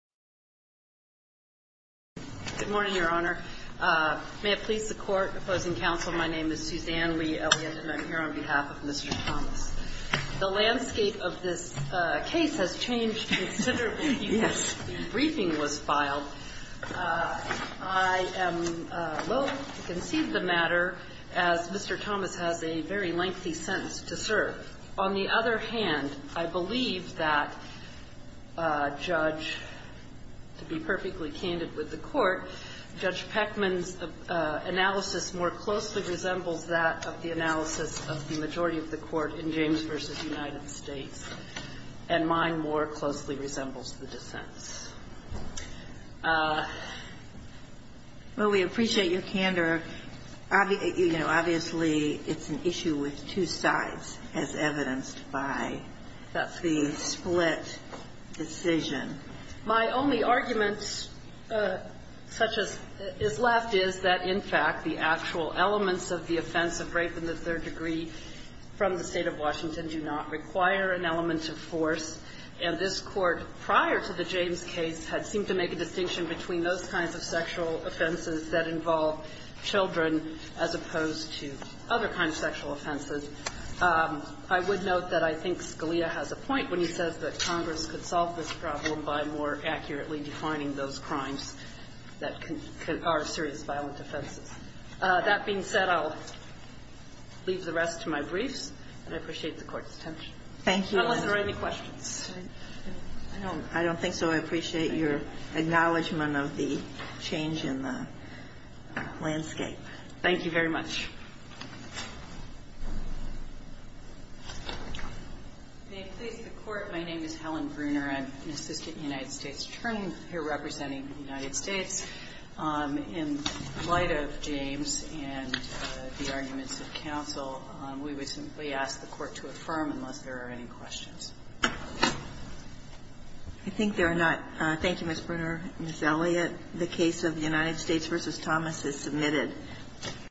Good morning, Your Honor. May it please the Court. Opposing counsel, my name is Suzanne Lee Elliott, and I'm here on behalf of Mr. Thomas. The landscape of this case has changed considerably since the briefing was filed. I am willing to concede the matter, as Mr. serve. On the other hand, I believe that Judge, to be perfectly candid with the Court, Judge Peckman's analysis more closely resembles that of the analysis of the majority of the Court in James v. United States, and mine more closely resembles the dissent's. Well, we appreciate your candor. Obviously, it's an issue with two sides, as evidenced by the split decision. My only argument, such as is left, is that, in fact, the actual elements of the offense of rape in the third degree from the State of Washington do not correspond with the actual elements of rape in the State of Washington. And I would note that the Court, prior to the James case, had seemed to make a distinction between those kinds of sexual offenses that involve children as opposed to other kinds of sexual offenses. I would note that I think Scalia has a point when he says that I don't think so. I appreciate your acknowledgment of the change in the landscape. Thank you very much. May it please the Court, my name is Helen Bruner. I'm an assistant United States attorney here representing the United States. In light of James and the arguments of counsel, we would simply ask the Court to affirm unless there are any questions. I think there are not. Thank you, Ms. Bruner. Ms. Elliott, the case of the United States v. Thomas is submitted.